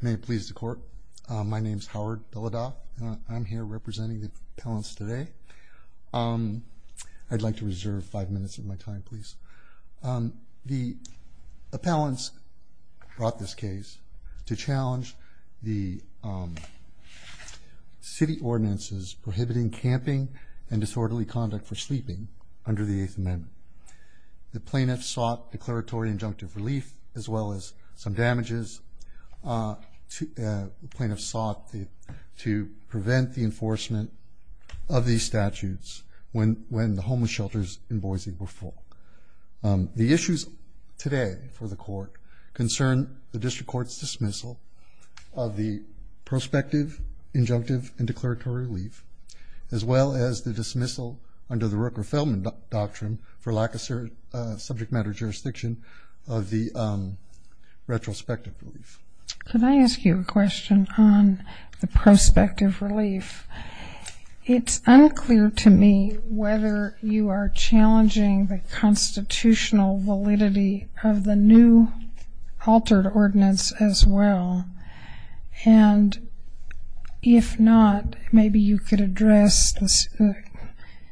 May it please the court. My name is Howard Belida. I'm here representing the appellants today. I'd like to reserve five minutes of my time please. The appellants brought this case to challenge the city ordinances prohibiting camping and disorderly conduct for sleeping under the Eighth Amendment. The plaintiffs sought declaratory injunctive relief as well as some damages. The plaintiffs sought to prevent the enforcement of these statutes when when the homeless shelters in Boise were full. The issues today for the court concern the District Court's dismissal of the prospective injunctive and declaratory relief as well as the dismissal under the Rooker-Feldman doctrine for lack of subject matter jurisdiction of the retrospective relief. Can I ask you a question on the prospective relief? It's unclear to me whether you are challenging the constitutional validity of the new altered ordinance as well and if not maybe you could address the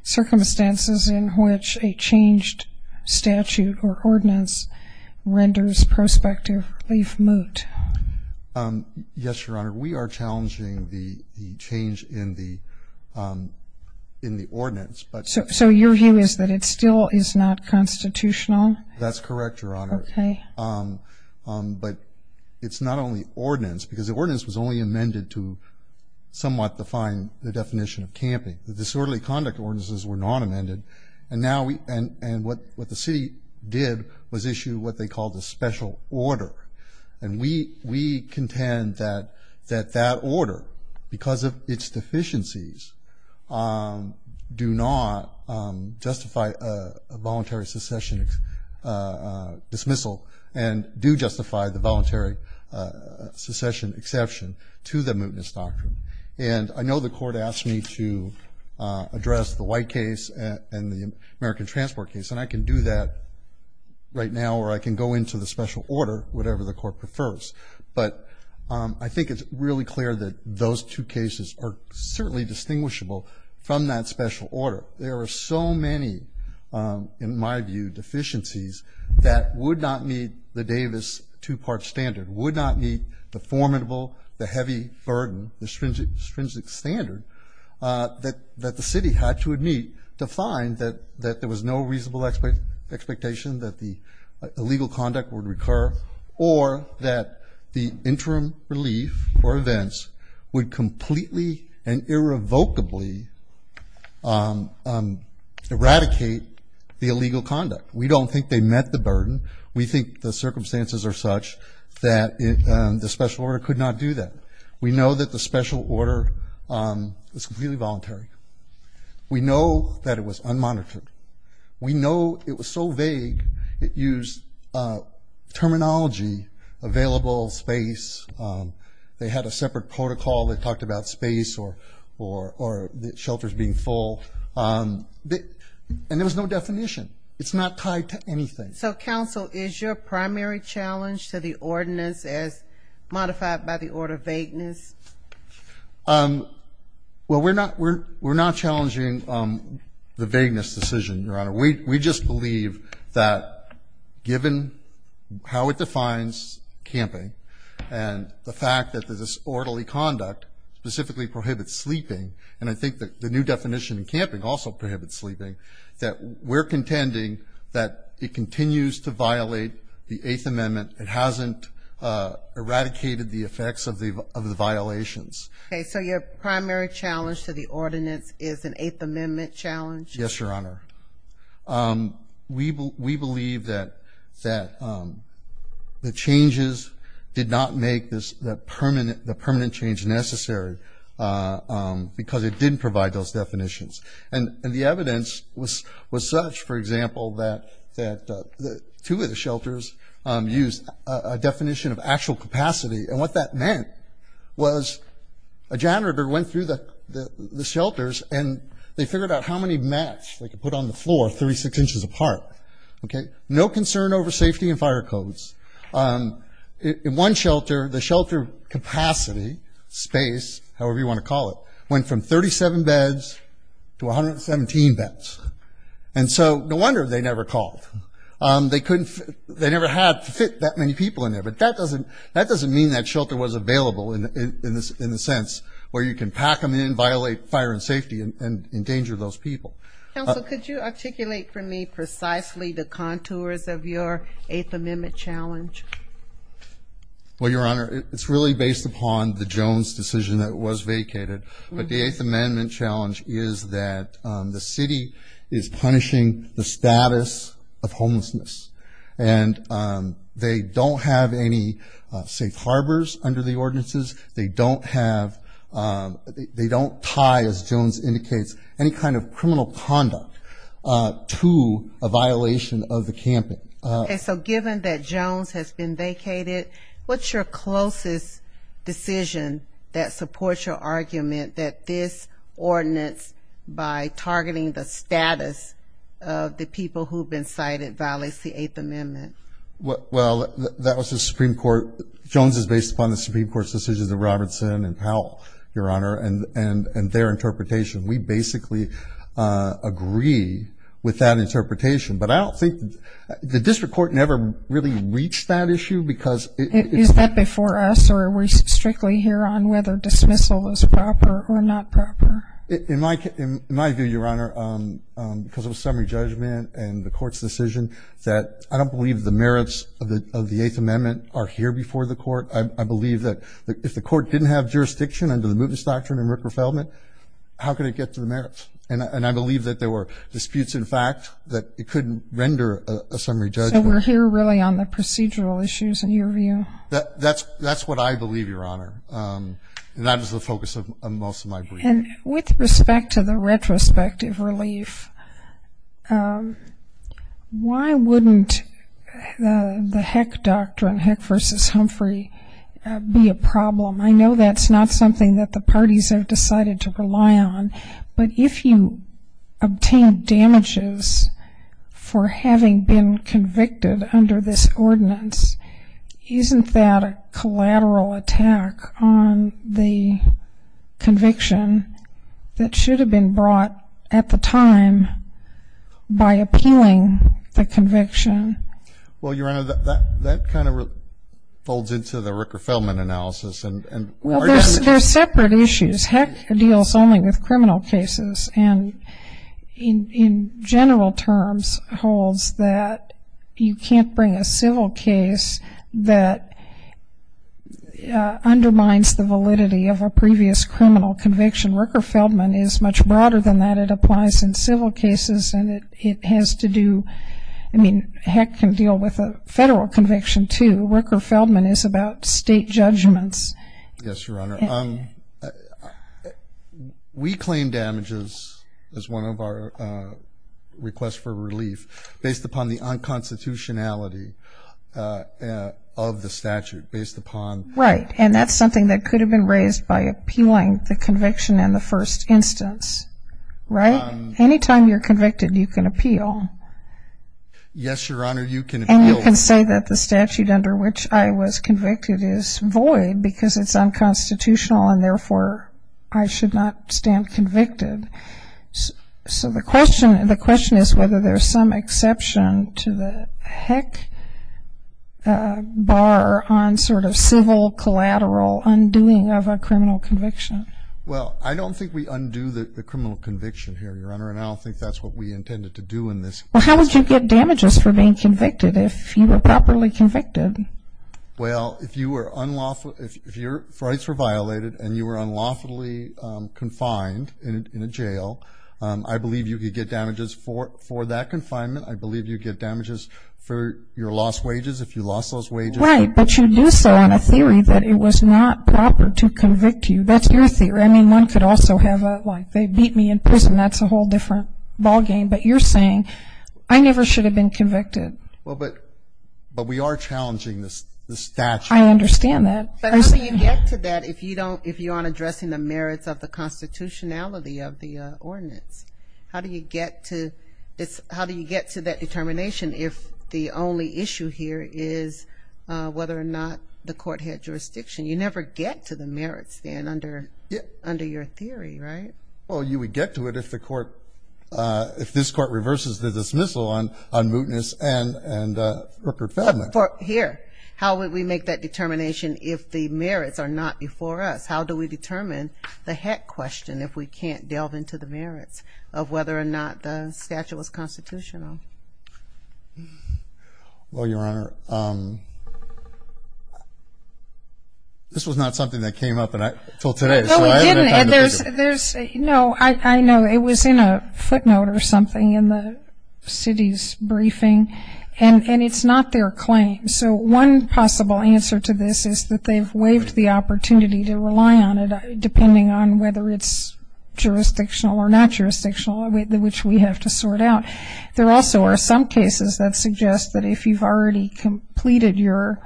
circumstances in which a changed statute or ordinance renders prospective relief moot. Yes, Your Honor. We are challenging the change in the in the ordinance. So your view is that it still is not constitutional? That's correct, Your Honor. Okay. But it's not only ordinance because the ordinance was only amended to somewhat define the definition of camping. The disorderly conduct ordinances were not amended and now we and and what what the city did was issue what they call the special order and we we contend that that that order because of its deficiencies do not justify a voluntary secession dismissal and do justify the voluntary secession exception to the mootness doctrine and I know the court asked me to address the white case and the American transport case and I can do that right now or I can go into the special order whatever the court prefers but I think it's really clear that those two cases are certainly distinguishable from that special order. There are so many in my view deficiencies that would not meet the Davis two-part standard would not meet the formidable the heavy burden the stringent stringent standard that that the city had to meet to find that that there was no reasonable expert expectation that the illegal conduct would recur or that the interim relief or events would completely and irrevocably eradicate the illegal conduct. We don't think they met the circumstances are such that the special order could not do that. We know that the special order is really voluntary. We know that it was unmonitored. We know it was so vague it used terminology available space they had a separate protocol that talked about space or or or the shelters being full and there was no definition it's not tied to anything. So counsel is your primary challenge to the ordinance as modified by the order vagueness? Well we're not we're we're not challenging the vagueness decision your honor we just believe that given how it defines camping and the fact that this orderly conduct specifically prohibits sleeping and I think that the new definition in camping also prohibits sleeping that we're contending that it continues to violate the Eighth Amendment it hasn't eradicated the effects of the of the violations. Okay so your primary challenge to the ordinance is an Eighth Amendment challenge? Yes your honor. We believe that that the changes did not make this the permanent the permanent change necessary because it didn't provide those definitions and the evidence was was such for example that that the two of the shelters used a definition of actual capacity and what that meant was a janitor went through the the shelters and they figured out how many mats they could put on the floor 36 inches apart. Okay no concern over safety and fire codes. In one shelter the shelter capacity space however you want to call it went from 37 beds to 117 beds and so no wonder they never called they couldn't they never had fit that many people in there but that doesn't that doesn't mean that shelter was available in this in the sense where you can pack them in violate fire and safety and endanger those people. Counsel could you articulate for me precisely the contours of your Eighth Amendment challenge? Well your honor it's really based upon the Jones decision that was vacated but the Eighth Amendment challenge is that the city is punishing the status of homelessness and they don't have any safe harbors under the ordinances they don't have they don't tie as Jones indicates any kind of criminal conduct to a violation of the decision that supports your argument that this ordinance by targeting the status of the people who've been cited violates the Eighth Amendment. Well that was the Supreme Court Jones is based upon the Supreme Court's decisions of Robertson and Powell your honor and and and their interpretation we basically agree with that interpretation but I don't think the district court never really reached that issue because it is that before us or we strictly here on whether dismissal is proper or not proper. In my in my view your honor because of a summary judgment and the court's decision that I don't believe the merits of the of the Eighth Amendment are here before the court I believe that if the court didn't have jurisdiction under the mootness doctrine and Rick Riffelman how could it get to the merits and I believe that there were a summary judgment. So we're here really on the procedural issues in your view? That that's that's what I believe your honor and that is the focus of most of my brief. And with respect to the retrospective relief why wouldn't the heck doctrine heck versus Humphrey be a problem I know that's not something that the parties have decided to rely on but if you obtain damages for having been convicted under this ordinance isn't that a collateral attack on the conviction that should have been brought at the time by appealing the conviction? Well your honor that that kind of folds into the Rick Riffelman analysis and there's separate issues heck deals only with criminal cases and in general terms holds that you can't bring a civil case that undermines the validity of a previous criminal conviction. Rick Riffelman is much broader than that it applies in civil cases and it has to do I mean heck can deal with a federal conviction too. Rick Riffelman is about state judgments. Yes your honor we claim damages as one of our requests for relief based upon the unconstitutionality of the statute based upon. Right and that's something that could have been raised by appealing the conviction in the first instance right anytime you're statute under which I was convicted is void because it's unconstitutional and therefore I should not stand convicted so the question and the question is whether there's some exception to the heck bar on sort of civil collateral undoing of a criminal conviction. Well I don't think we undo the criminal conviction here your honor and I don't think that's what we intended to do in this. Well how would you get damages for being convicted if you were properly convicted? Well if you were unlawful if your rights were violated and you were unlawfully confined in a jail I believe you could get damages for for that confinement I believe you get damages for your lost wages if you lost those wages. Right but you do so on a theory that it was not proper to convict you that's your theory I mean one could also have like they beat me in prison that's a whole different ballgame but you're saying I never should have been convicted. Well but but we are challenging this the statute. I understand that. But how do you get to that if you don't if you aren't addressing the merits of the constitutionality of the ordinance how do you get to this how do you get to that determination if the only issue here is whether or not the court had jurisdiction you never get to the merits then under under your theory right? Well you would get to it if the court if this court reverses the dismissal on on mootness and and Rupert Feldman. Here how would we make that determination if the merits are not before us how do we determine the heck question if we can't delve into the merits of whether or not the statute was constitutional. Well your know it was in a footnote or something in the city's briefing and and it's not their claim so one possible answer to this is that they've waived the opportunity to rely on it depending on whether it's jurisdictional or not jurisdictional which we have to sort out there also are some cases that suggest that if you've already completed your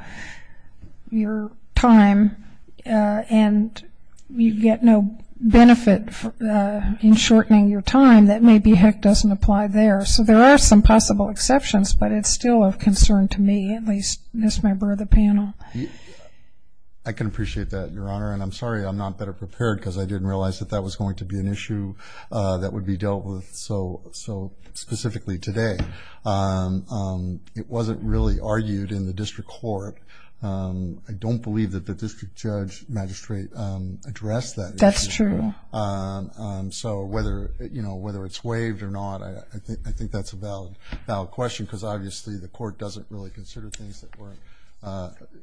your time and you get no benefit in shortening your time that maybe heck doesn't apply there so there are some possible exceptions but it's still of concern to me at least this member of the panel. I can appreciate that your honor and I'm sorry I'm not better prepared because I didn't realize that that was going to be an issue that would be dealt with so so specifically today it wasn't really argued in the district court I don't believe that the district judge magistrate addressed that. That's true. So whether you know whether it's waived or not I think I think that's a valid question because obviously the court doesn't really consider things that work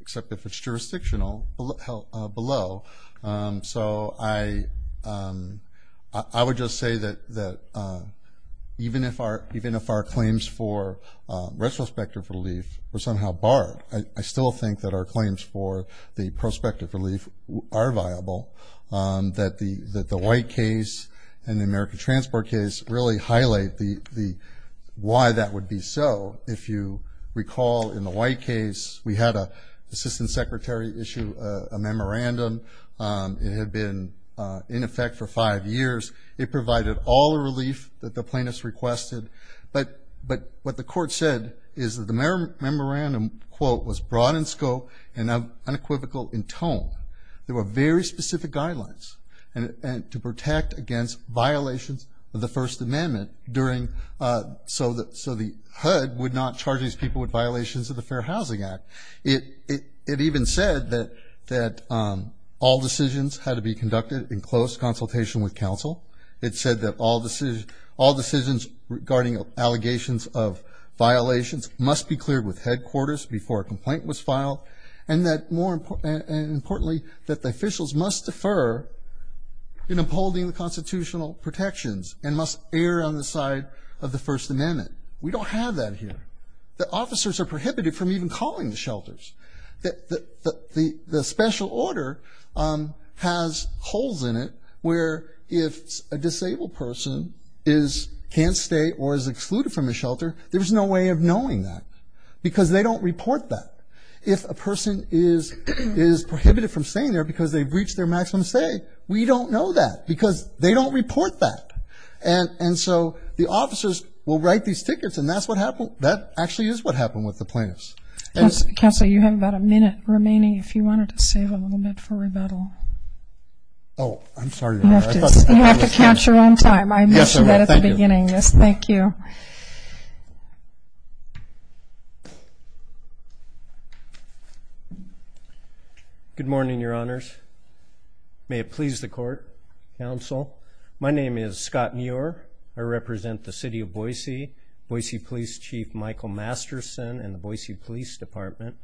except if it's jurisdictional below so I I would just say that that even if our even if our claims for retrospective relief were somehow barred I still think that our claims for the prospective relief are viable that the that the white case and the American transport case really highlight the the why that would be so if you recall in the white case we had a assistant secretary issue a memorandum it had been in effect for five years it provided all the relief that the plaintiffs requested but but what the court said is that the memorandum quote was broad in scope and unequivocal in tone there were very specific guidelines and to protect against violations of the First Amendment during so that so the HUD would not charge these people with violations of the Fair Housing Act it it even said that that all decisions had to be conducted in close consultation with counsel it said that all decision all decisions regarding allegations of violations must be cleared with headquarters before a complaint was filed and that more importantly that the officials must defer in upholding the constitutional protections and must err on the side of the First Amendment we don't have that here the officers are prohibited from even calling the shelters that the the special order has holes in it where if a disabled person is can't stay or is excluded from the shelter there's no way of knowing that because they don't report that if a breach their maximum say we don't know that because they don't report that and and so the officers will write these tickets and that's what happened that actually is what happened with the plaintiffs can't say you have about a minute remaining if you wanted to save a little bit for rebuttal oh I'm sorry you have to catch your own time I mentioned that at the beginning yes thank you good morning your honors may it please the court counsel my name is Scott Muir I represent the city of Boise Boise Police Chief Michael Masterson and the Boise Police Department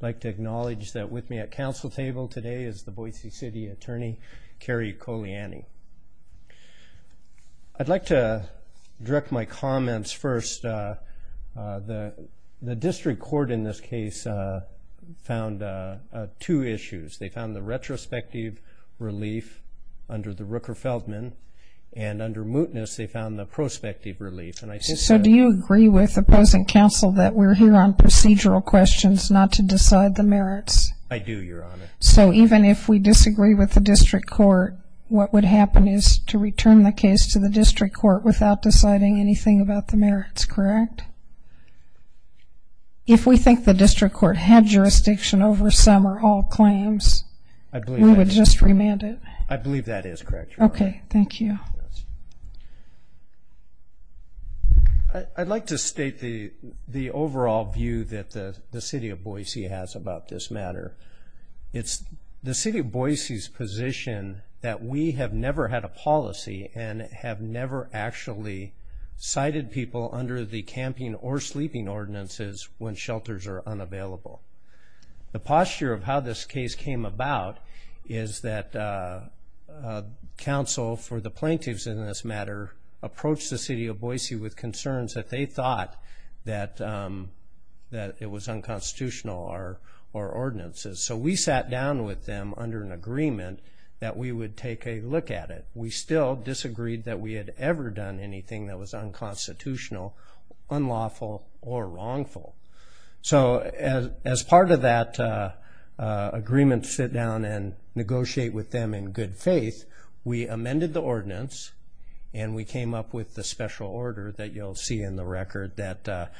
like to acknowledge that with me at council table today is the Boise City Attorney Kerry Koliani I'd like to direct my comments first the the district court in this case found two issues they found the retrospective relief under the Rooker Feldman and under mootness they found the prospective relief and I said so do you agree with opposing counsel that we're here on procedural questions not to decide the merits I do your honor so even if we disagree with the district court what would happen is to return the case to the district court without deciding anything about the merits correct if we think the district court had jurisdiction over some or all claims I believe it's just remanded I believe that is correct okay thank you I'd like to state the the overall view that the the city of Boise has about this matter it's the city of Boise's position that we have never had a policy and have never actually cited people under the camping or sleeping ordinances when shelters are unavailable the posture of how this case came about is that counsel for the plaintiffs in this matter approached the city of Boise with ordinances so we sat down with them under an agreement that we would take a look at it we still disagreed that we had ever done anything that was unconstitutional unlawful or wrongful so as as part of that agreement sit down and negotiate with them in good faith we amended the ordinance and we came up with the special order that you'll see in the record that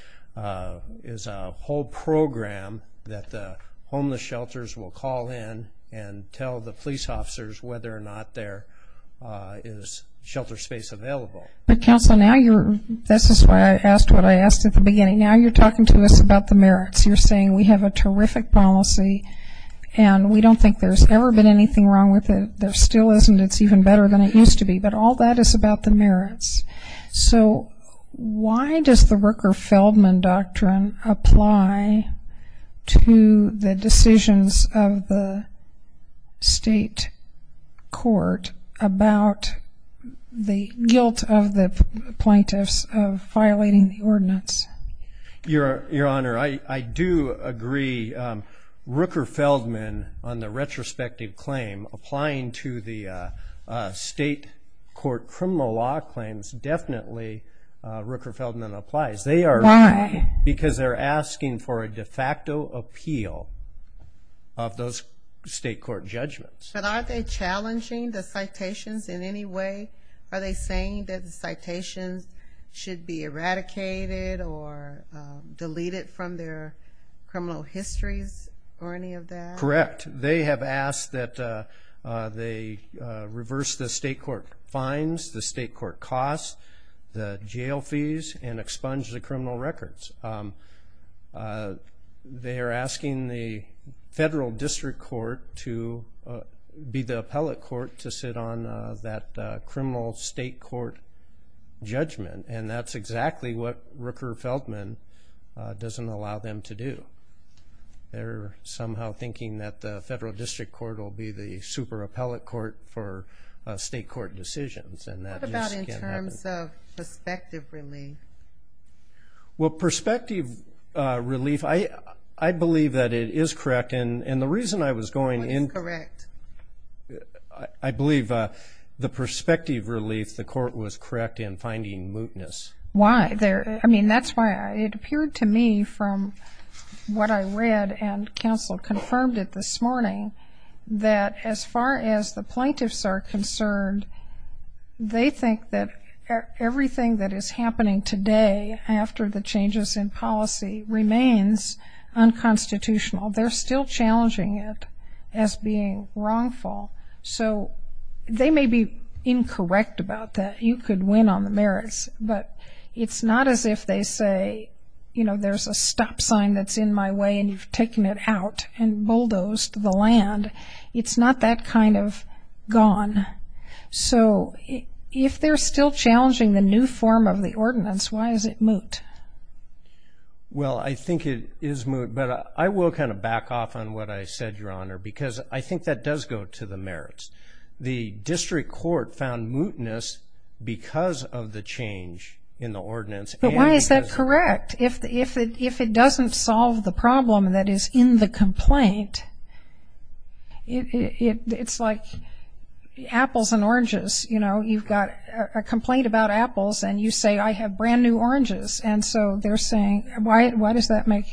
is a whole program that the homeless shelters will call in and tell the police officers whether or not there is shelter space available but counsel now you're this is why I asked what I asked at the beginning now you're talking to us about the merits you're saying we have a terrific policy and we don't think there's ever been anything wrong with it there still isn't it's even better than it used to be but all that is about the merits so why does the Rooker Feldman doctrine apply to the decisions of the state court about the guilt of the plaintiffs of violating the ordinance your your honor I do agree Rooker Feldman on the retrospective applying to the state court criminal law claims definitely Rooker Feldman applies they are why because they're asking for a de facto appeal of those state court judgments but are they challenging the citations in any way are they saying that the citations should be eradicated or deleted from their criminal histories correct they have asked that they reverse the state court fines the state court costs the jail fees and expunge the criminal records they are asking the federal district court to be the appellate court to sit on that criminal state court judgment and that's exactly what Rooker Feldman doesn't allow them to do they're somehow thinking that the federal district court will be the super appellate court for state court decisions and that perspective relief well perspective relief I I believe that it is correct and and the reason I was going in correct I believe the perspective relief the court was mootness why there I mean that's why it appeared to me from what I read and counsel confirmed it this morning that as far as the plaintiffs are concerned they think that everything that is happening today after the changes in policy remains unconstitutional they're still challenging it as being wrongful so they may be incorrect about that you could win on the merits but it's not as if they say you know there's a stop sign that's in my way and you've taken it out and bulldozed the land it's not that kind of gone so if they're still challenging the new form of the ordinance why is it moot well I think it is moot but I will kind of back off on what I said your honor because I think that does go to the merits the district court found mootness because of the change in the ordinance but why is that correct if if it if it doesn't solve the problem that is in the complaint it's like apples and oranges you know you've got a complaint about apples and you say I have brand new oranges and so they're saying why does that make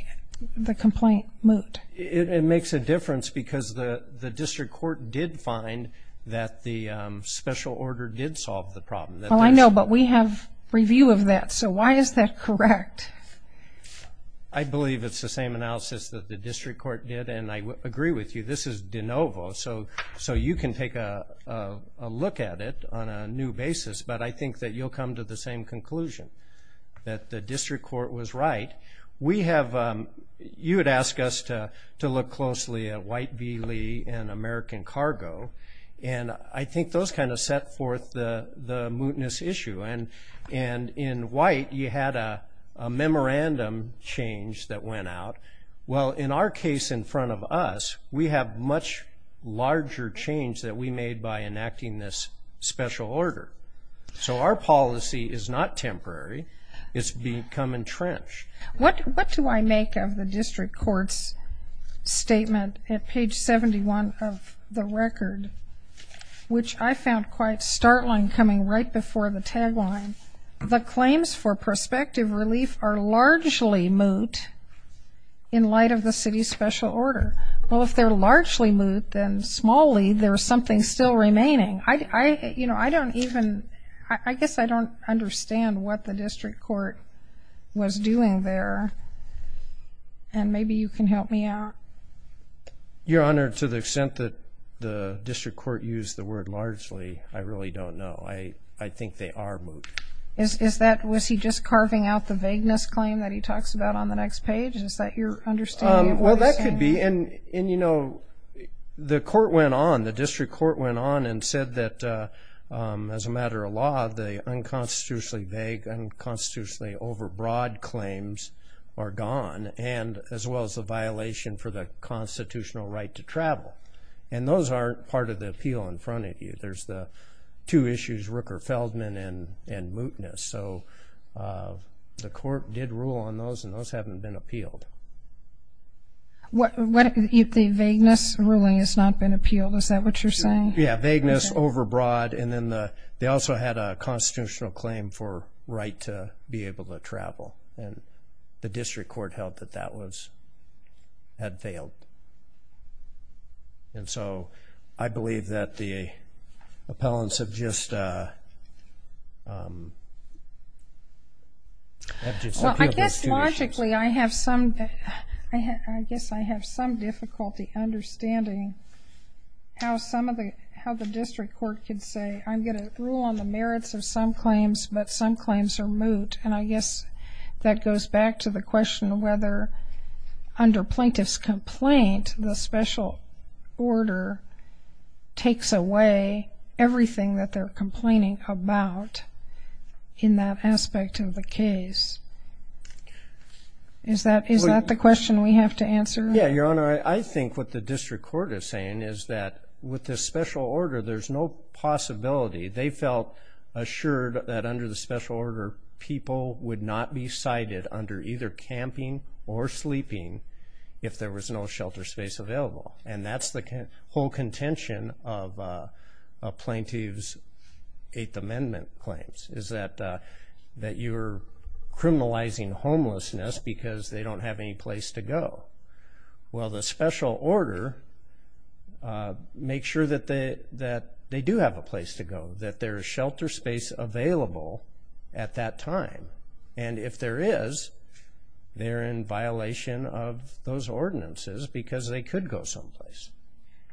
the complaint moot it makes a difference because the district court did find that the special order did solve the problem well I know but we have review of that so why is that correct I believe it's the same analysis that the district court did and I agree with you this is de novo so so you can take a look at it on a new basis but I think that you'll come to the same conclusion that the district court was right we have you ask us to to look closely at white V Lee and American cargo and I think those kind of set forth the the mootness issue and and in white you had a memorandum change that went out well in our case in front of us we have much larger change that we made by enacting this special order so our policy is not temporary it's become entrenched what what do I make of the district court's statement at page 71 of the record which I found quite startling coming right before the tagline the claims for prospective relief are largely moot in light of the city's special order well if they're largely moot then smallly there's something still remaining I you know I don't even I guess I don't understand what the district court was doing there and maybe you can help me out your honor to the extent that the district court used the word largely I really don't know I I think they are moot is that was he just carving out the vagueness claim that he talks about on the next page is that you're understanding well that could be in and you know the court went on the district court went on and said that as a matter of law the unconstitutionally vague unconstitutionally overbroad claims are gone and as well as the violation for the constitutional right to travel and those aren't part of the appeal in front of you there's the two issues Rooker Feldman and and mootness so the court did rule on those and those haven't been appealed what if the vagueness ruling has not been appealed is that what you're saying yeah vagueness overbroad and then the they also had a constitutional claim for right to be able to travel and the district court held that that was had failed and so I believe that the appellants have just I guess logically I have some I guess I have some difficulty understanding how some of the how the district court can say I'm gonna rule on the merits of some claims but some claims are moot and I guess that goes back to the question whether under plaintiffs complaint the special order takes away everything that they're complaining about in that aspect of the case is that is that the question we have to answer yeah your honor I think what the district court is saying is that with this special order there's no possibility they felt assured that under the special order people would not be cited under either camping or sleeping if there was no shelter space available and that's the whole contention of plaintiffs Eighth Amendment claims is that that you're criminalizing homelessness because they don't have any place to go well the special order make sure that they that they do have a place to go that there's shelter space available at that time and if there is they're in violation of those ordinances because they could go someplace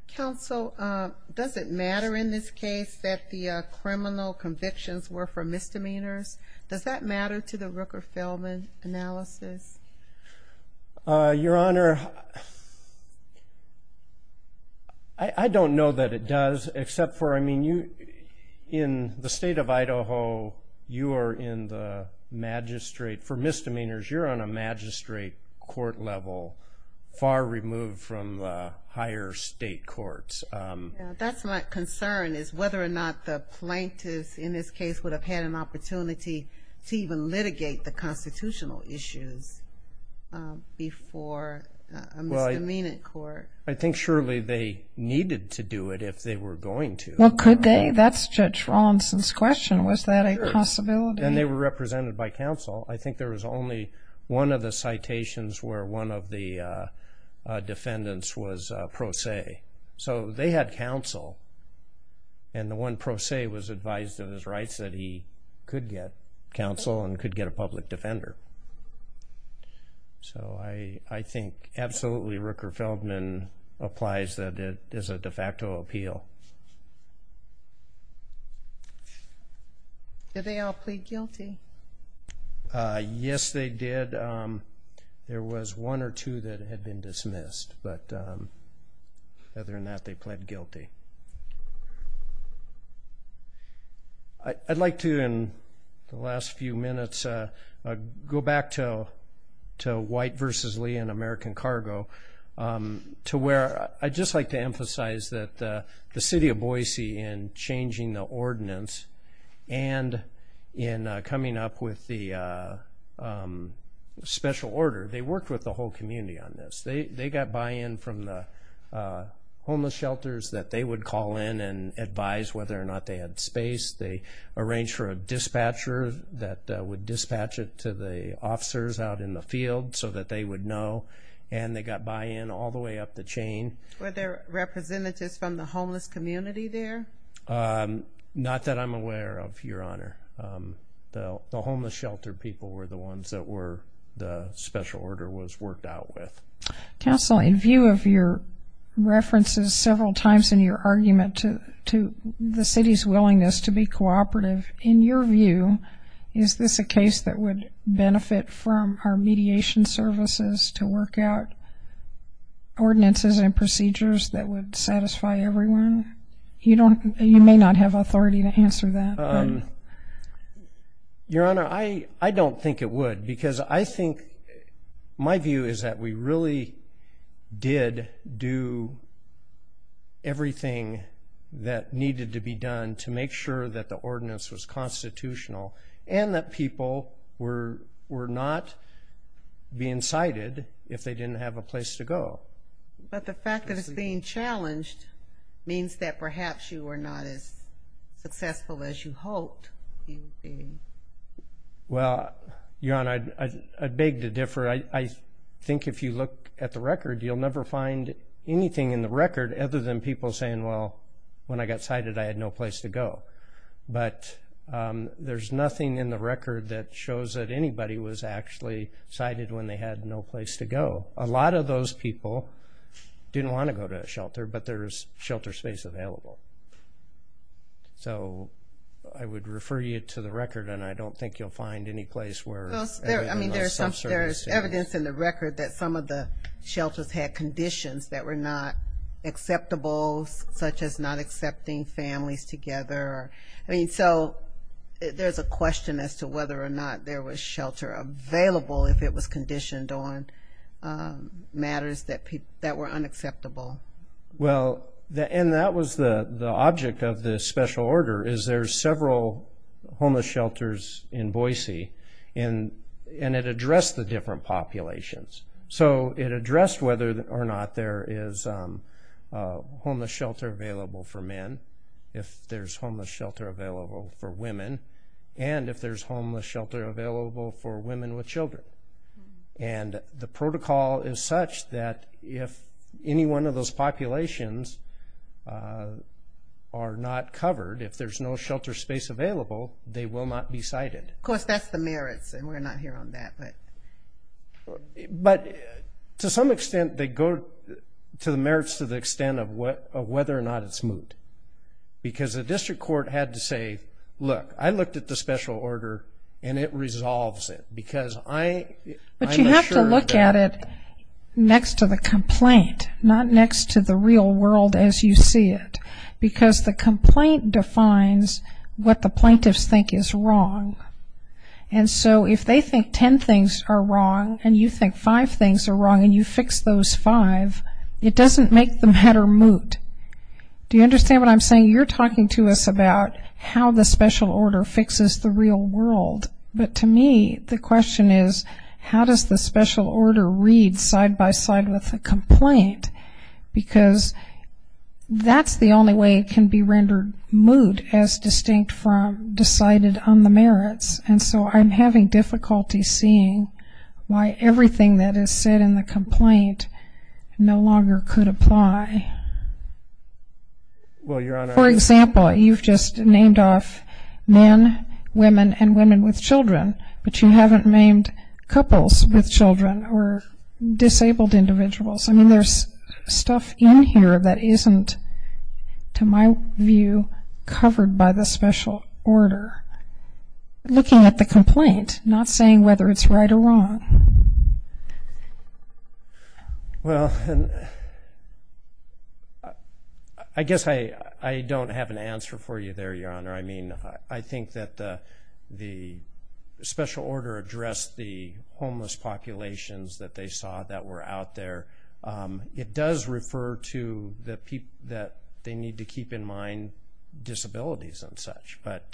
Council does it matter in this case that the criminal convictions were for misdemeanors does that matter to the Rooker-Feldman analysis your honor I don't know that it does except for I mean you in the state of Idaho you are in the magistrate for misdemeanors you're on a far removed from higher state courts that's my concern is whether or not the plaintiffs in this case would have had an opportunity to even litigate the constitutional issues before I mean it court I think surely they needed to do it if they were going to what could they that's judge Rawlinson's question was that a possibility and they were represented by counsel I think there was only one of the citations where one of the defendants was pro se so they had counsel and the one pro se was advised of his rights that he could get counsel and could get a public defender so I I think absolutely Rooker-Feldman applies that it is a de facto appeal guilty yes they did there was one or two that had been dismissed but other than that they pled guilty I'd like to in the last few minutes go back to to white vs. Lee and American cargo to where I just like to emphasize that the city of Boise in changing the ordinance and in coming up with the special order they worked with the whole community on this they they got buy-in from the homeless shelters that they would call in and advise whether or not they had space they arranged for a dispatcher that would dispatch it to the officers out in the field so that they would know and they got buy-in all the way up the chain where their representatives from the homeless community there not that I'm aware of your honor the homeless shelter people were the ones that were the special order was worked out with counseling view of your references several times in your argument to to the city's willingness to be cooperative in your view is this a case that would benefit from our mediation services to work out ordinances and procedures that would satisfy everyone you don't you may not have authority to answer that your honor I I don't think it would because I think my view is that we really did do everything that needed to be done to make sure that the ordinance was constitutional and that people were were not being cited if they didn't have a place to go but the fact that it's being challenged means that perhaps you were not as successful as you hoped well your honor I beg to differ I think if you look at the record you'll never find anything in the record other than people saying well when I got cited I had no place to go but there's nothing in the record that shows that anybody was actually cited when they had no place to go a lot of those people didn't want to go to a shelter but there's so I would refer you to the record and I don't think you'll find any place where I mean there's evidence in the record that some of the shelters had conditions that were not acceptable such as not accepting families together I mean so there's a question as to whether or not there was shelter available if it was conditioned on matters that people that were unacceptable well the end that was the object of this special order is there's several homeless shelters in Boise and and it addressed the different populations so it addressed whether or not there is homeless shelter available for men if there's homeless shelter available for women and if there's homeless shelter available for women with are not covered if there's no shelter space available they will not be cited of course that's the merits and we're not here on that but but to some extent they go to the merits to the extent of what whether or not it's moot because a district court had to say look I looked at the special order and it resolves it because I but you have to look at it next to the complaint not next to the because the complaint defines what the plaintiffs think is wrong and so if they think ten things are wrong and you think five things are wrong and you fix those five it doesn't make the matter moot do you understand what I'm saying you're talking to us about how the special order fixes the real world but to me the question is how does the special order read side-by-side with a that's the only way it can be rendered moot as distinct from decided on the merits and so I'm having difficulty seeing why everything that is said in the complaint no longer could apply for example you've just named off men women and women with children but you haven't named couples with children or disabled individuals I mean there's stuff in here that isn't to my view covered by the special order looking at the complaint not saying whether it's right or wrong well I guess I I don't have an answer for you there your honor I mean I think that the special order addressed the homeless populations that they saw that were out there it does refer to the people that they need to keep in mind disabilities and such but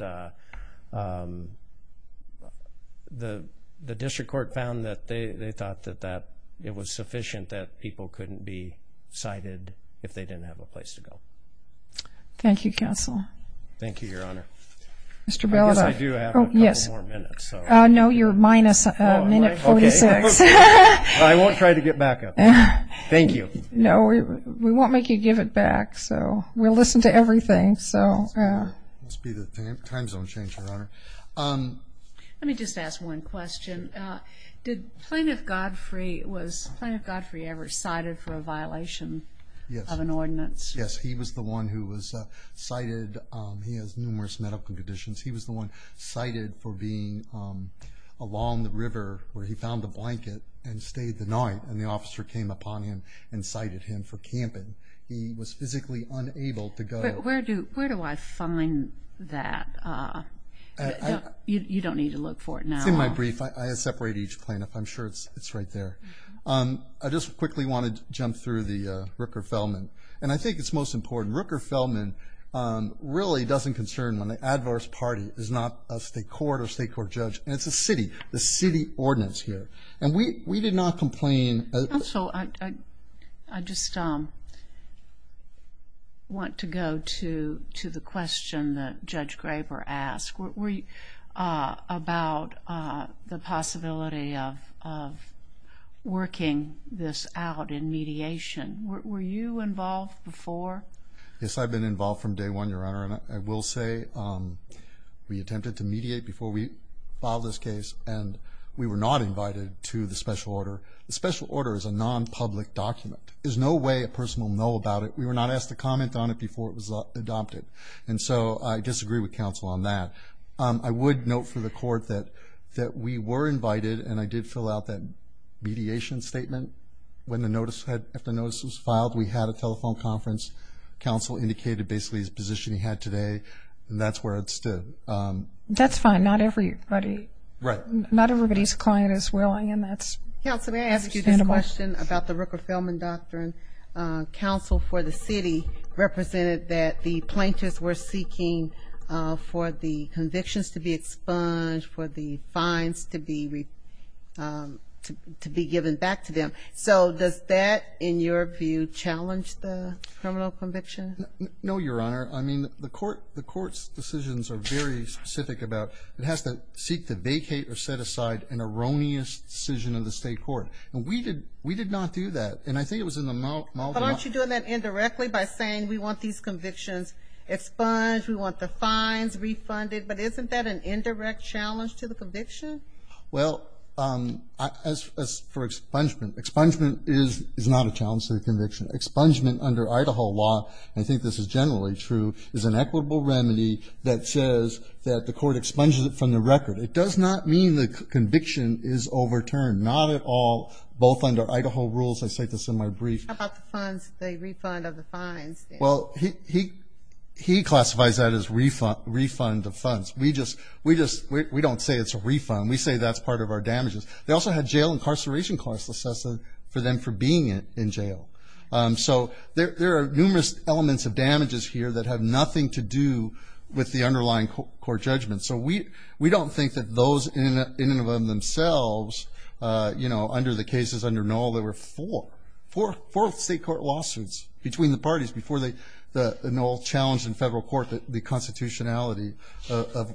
the the district court found that they thought that that it was sufficient that people couldn't be cited if they didn't have a I won't try to get back thank you no we won't make you give it back so we'll listen to everything so let me just ask one question did plaintiff Godfrey was Godfrey ever cited for a violation of an ordinance yes he was the one who was cited he has numerous medical conditions he was the one cited for being along the blanket and stayed the night and the officer came upon him and cited him for camping he was physically unable to go where do where do I find that you don't need to look for it now in my brief I separate each plaintiff I'm sure it's it's right there I just quickly wanted to jump through the Rooker Feldman and I think it's most important Rooker Feldman really doesn't concern when the adverse party is not a state court or state court judge and it's a city the city ordinance here and we we did not complain so I just want to go to to the question that Judge Graber asked we about the possibility of working this out in mediation were you involved before yes I've been involved from day one your honor and I will say we attempted to mediate before we filed this case and we were not invited to the special order the special order is a non-public document there's no way a person will know about it we were not asked to comment on it before it was adopted and so I disagree with counsel on that I would note for the court that that we were invited and I did fill out that mediation statement when the notice had after notice was filed we had a telephone conference counsel indicated basically his position he had today and that's fine not everybody not everybody's client is willing and that's about the Rooker Feldman doctrine counsel for the city represented that the plaintiffs were seeking for the convictions to be expunged for the fines to be to be given back to them so does that in your view challenge the criminal decisions are very specific about it has to seek to vacate or set aside an erroneous decision of the state court and we did we did not do that and I think it was in the mouth aren't you doing that indirectly by saying we want these convictions expunged we want the fines refunded but isn't that an indirect challenge to the conviction well as for expungement expungement is is not a challenge to the conviction expungement under Idaho law I think this is generally true is an equitable remedy that says that the court expunged it from the record it does not mean the conviction is overturned not at all both under Idaho rules I say this in my brief well he he classifies that as refund refund of funds we just we just we don't say it's a refund we say that's part of our damages they also had jail incarceration costs assessed for them for being in jail so there are numerous elements of damages here that have nothing to do with the underlying court judgment so we we don't think that those in in and of them themselves you know under the cases under no there were four for fourth state court lawsuits between the parties before they the an old challenge in federal court that the constitutionality of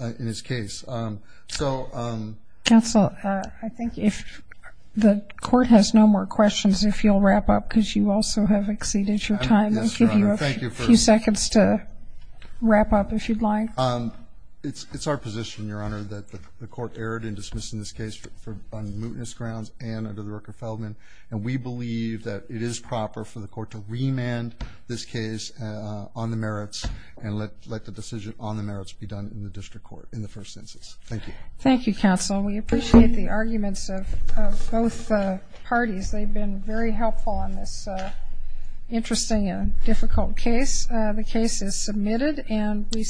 in his case so that's all I think if the court has no more questions if you'll wrap up because you also have exceeded your time thank you for a few seconds to wrap up if you'd like um it's it's our position your honor that the court erred in dismissing this case for on mootness grounds and under the record Feldman and we believe that it is proper for the court to remand this case on the merits and let let the decision on the merits be done in the district court in the council we appreciate the arguments of both parties they've been very helpful on this interesting and difficult case the case is submitted and we stand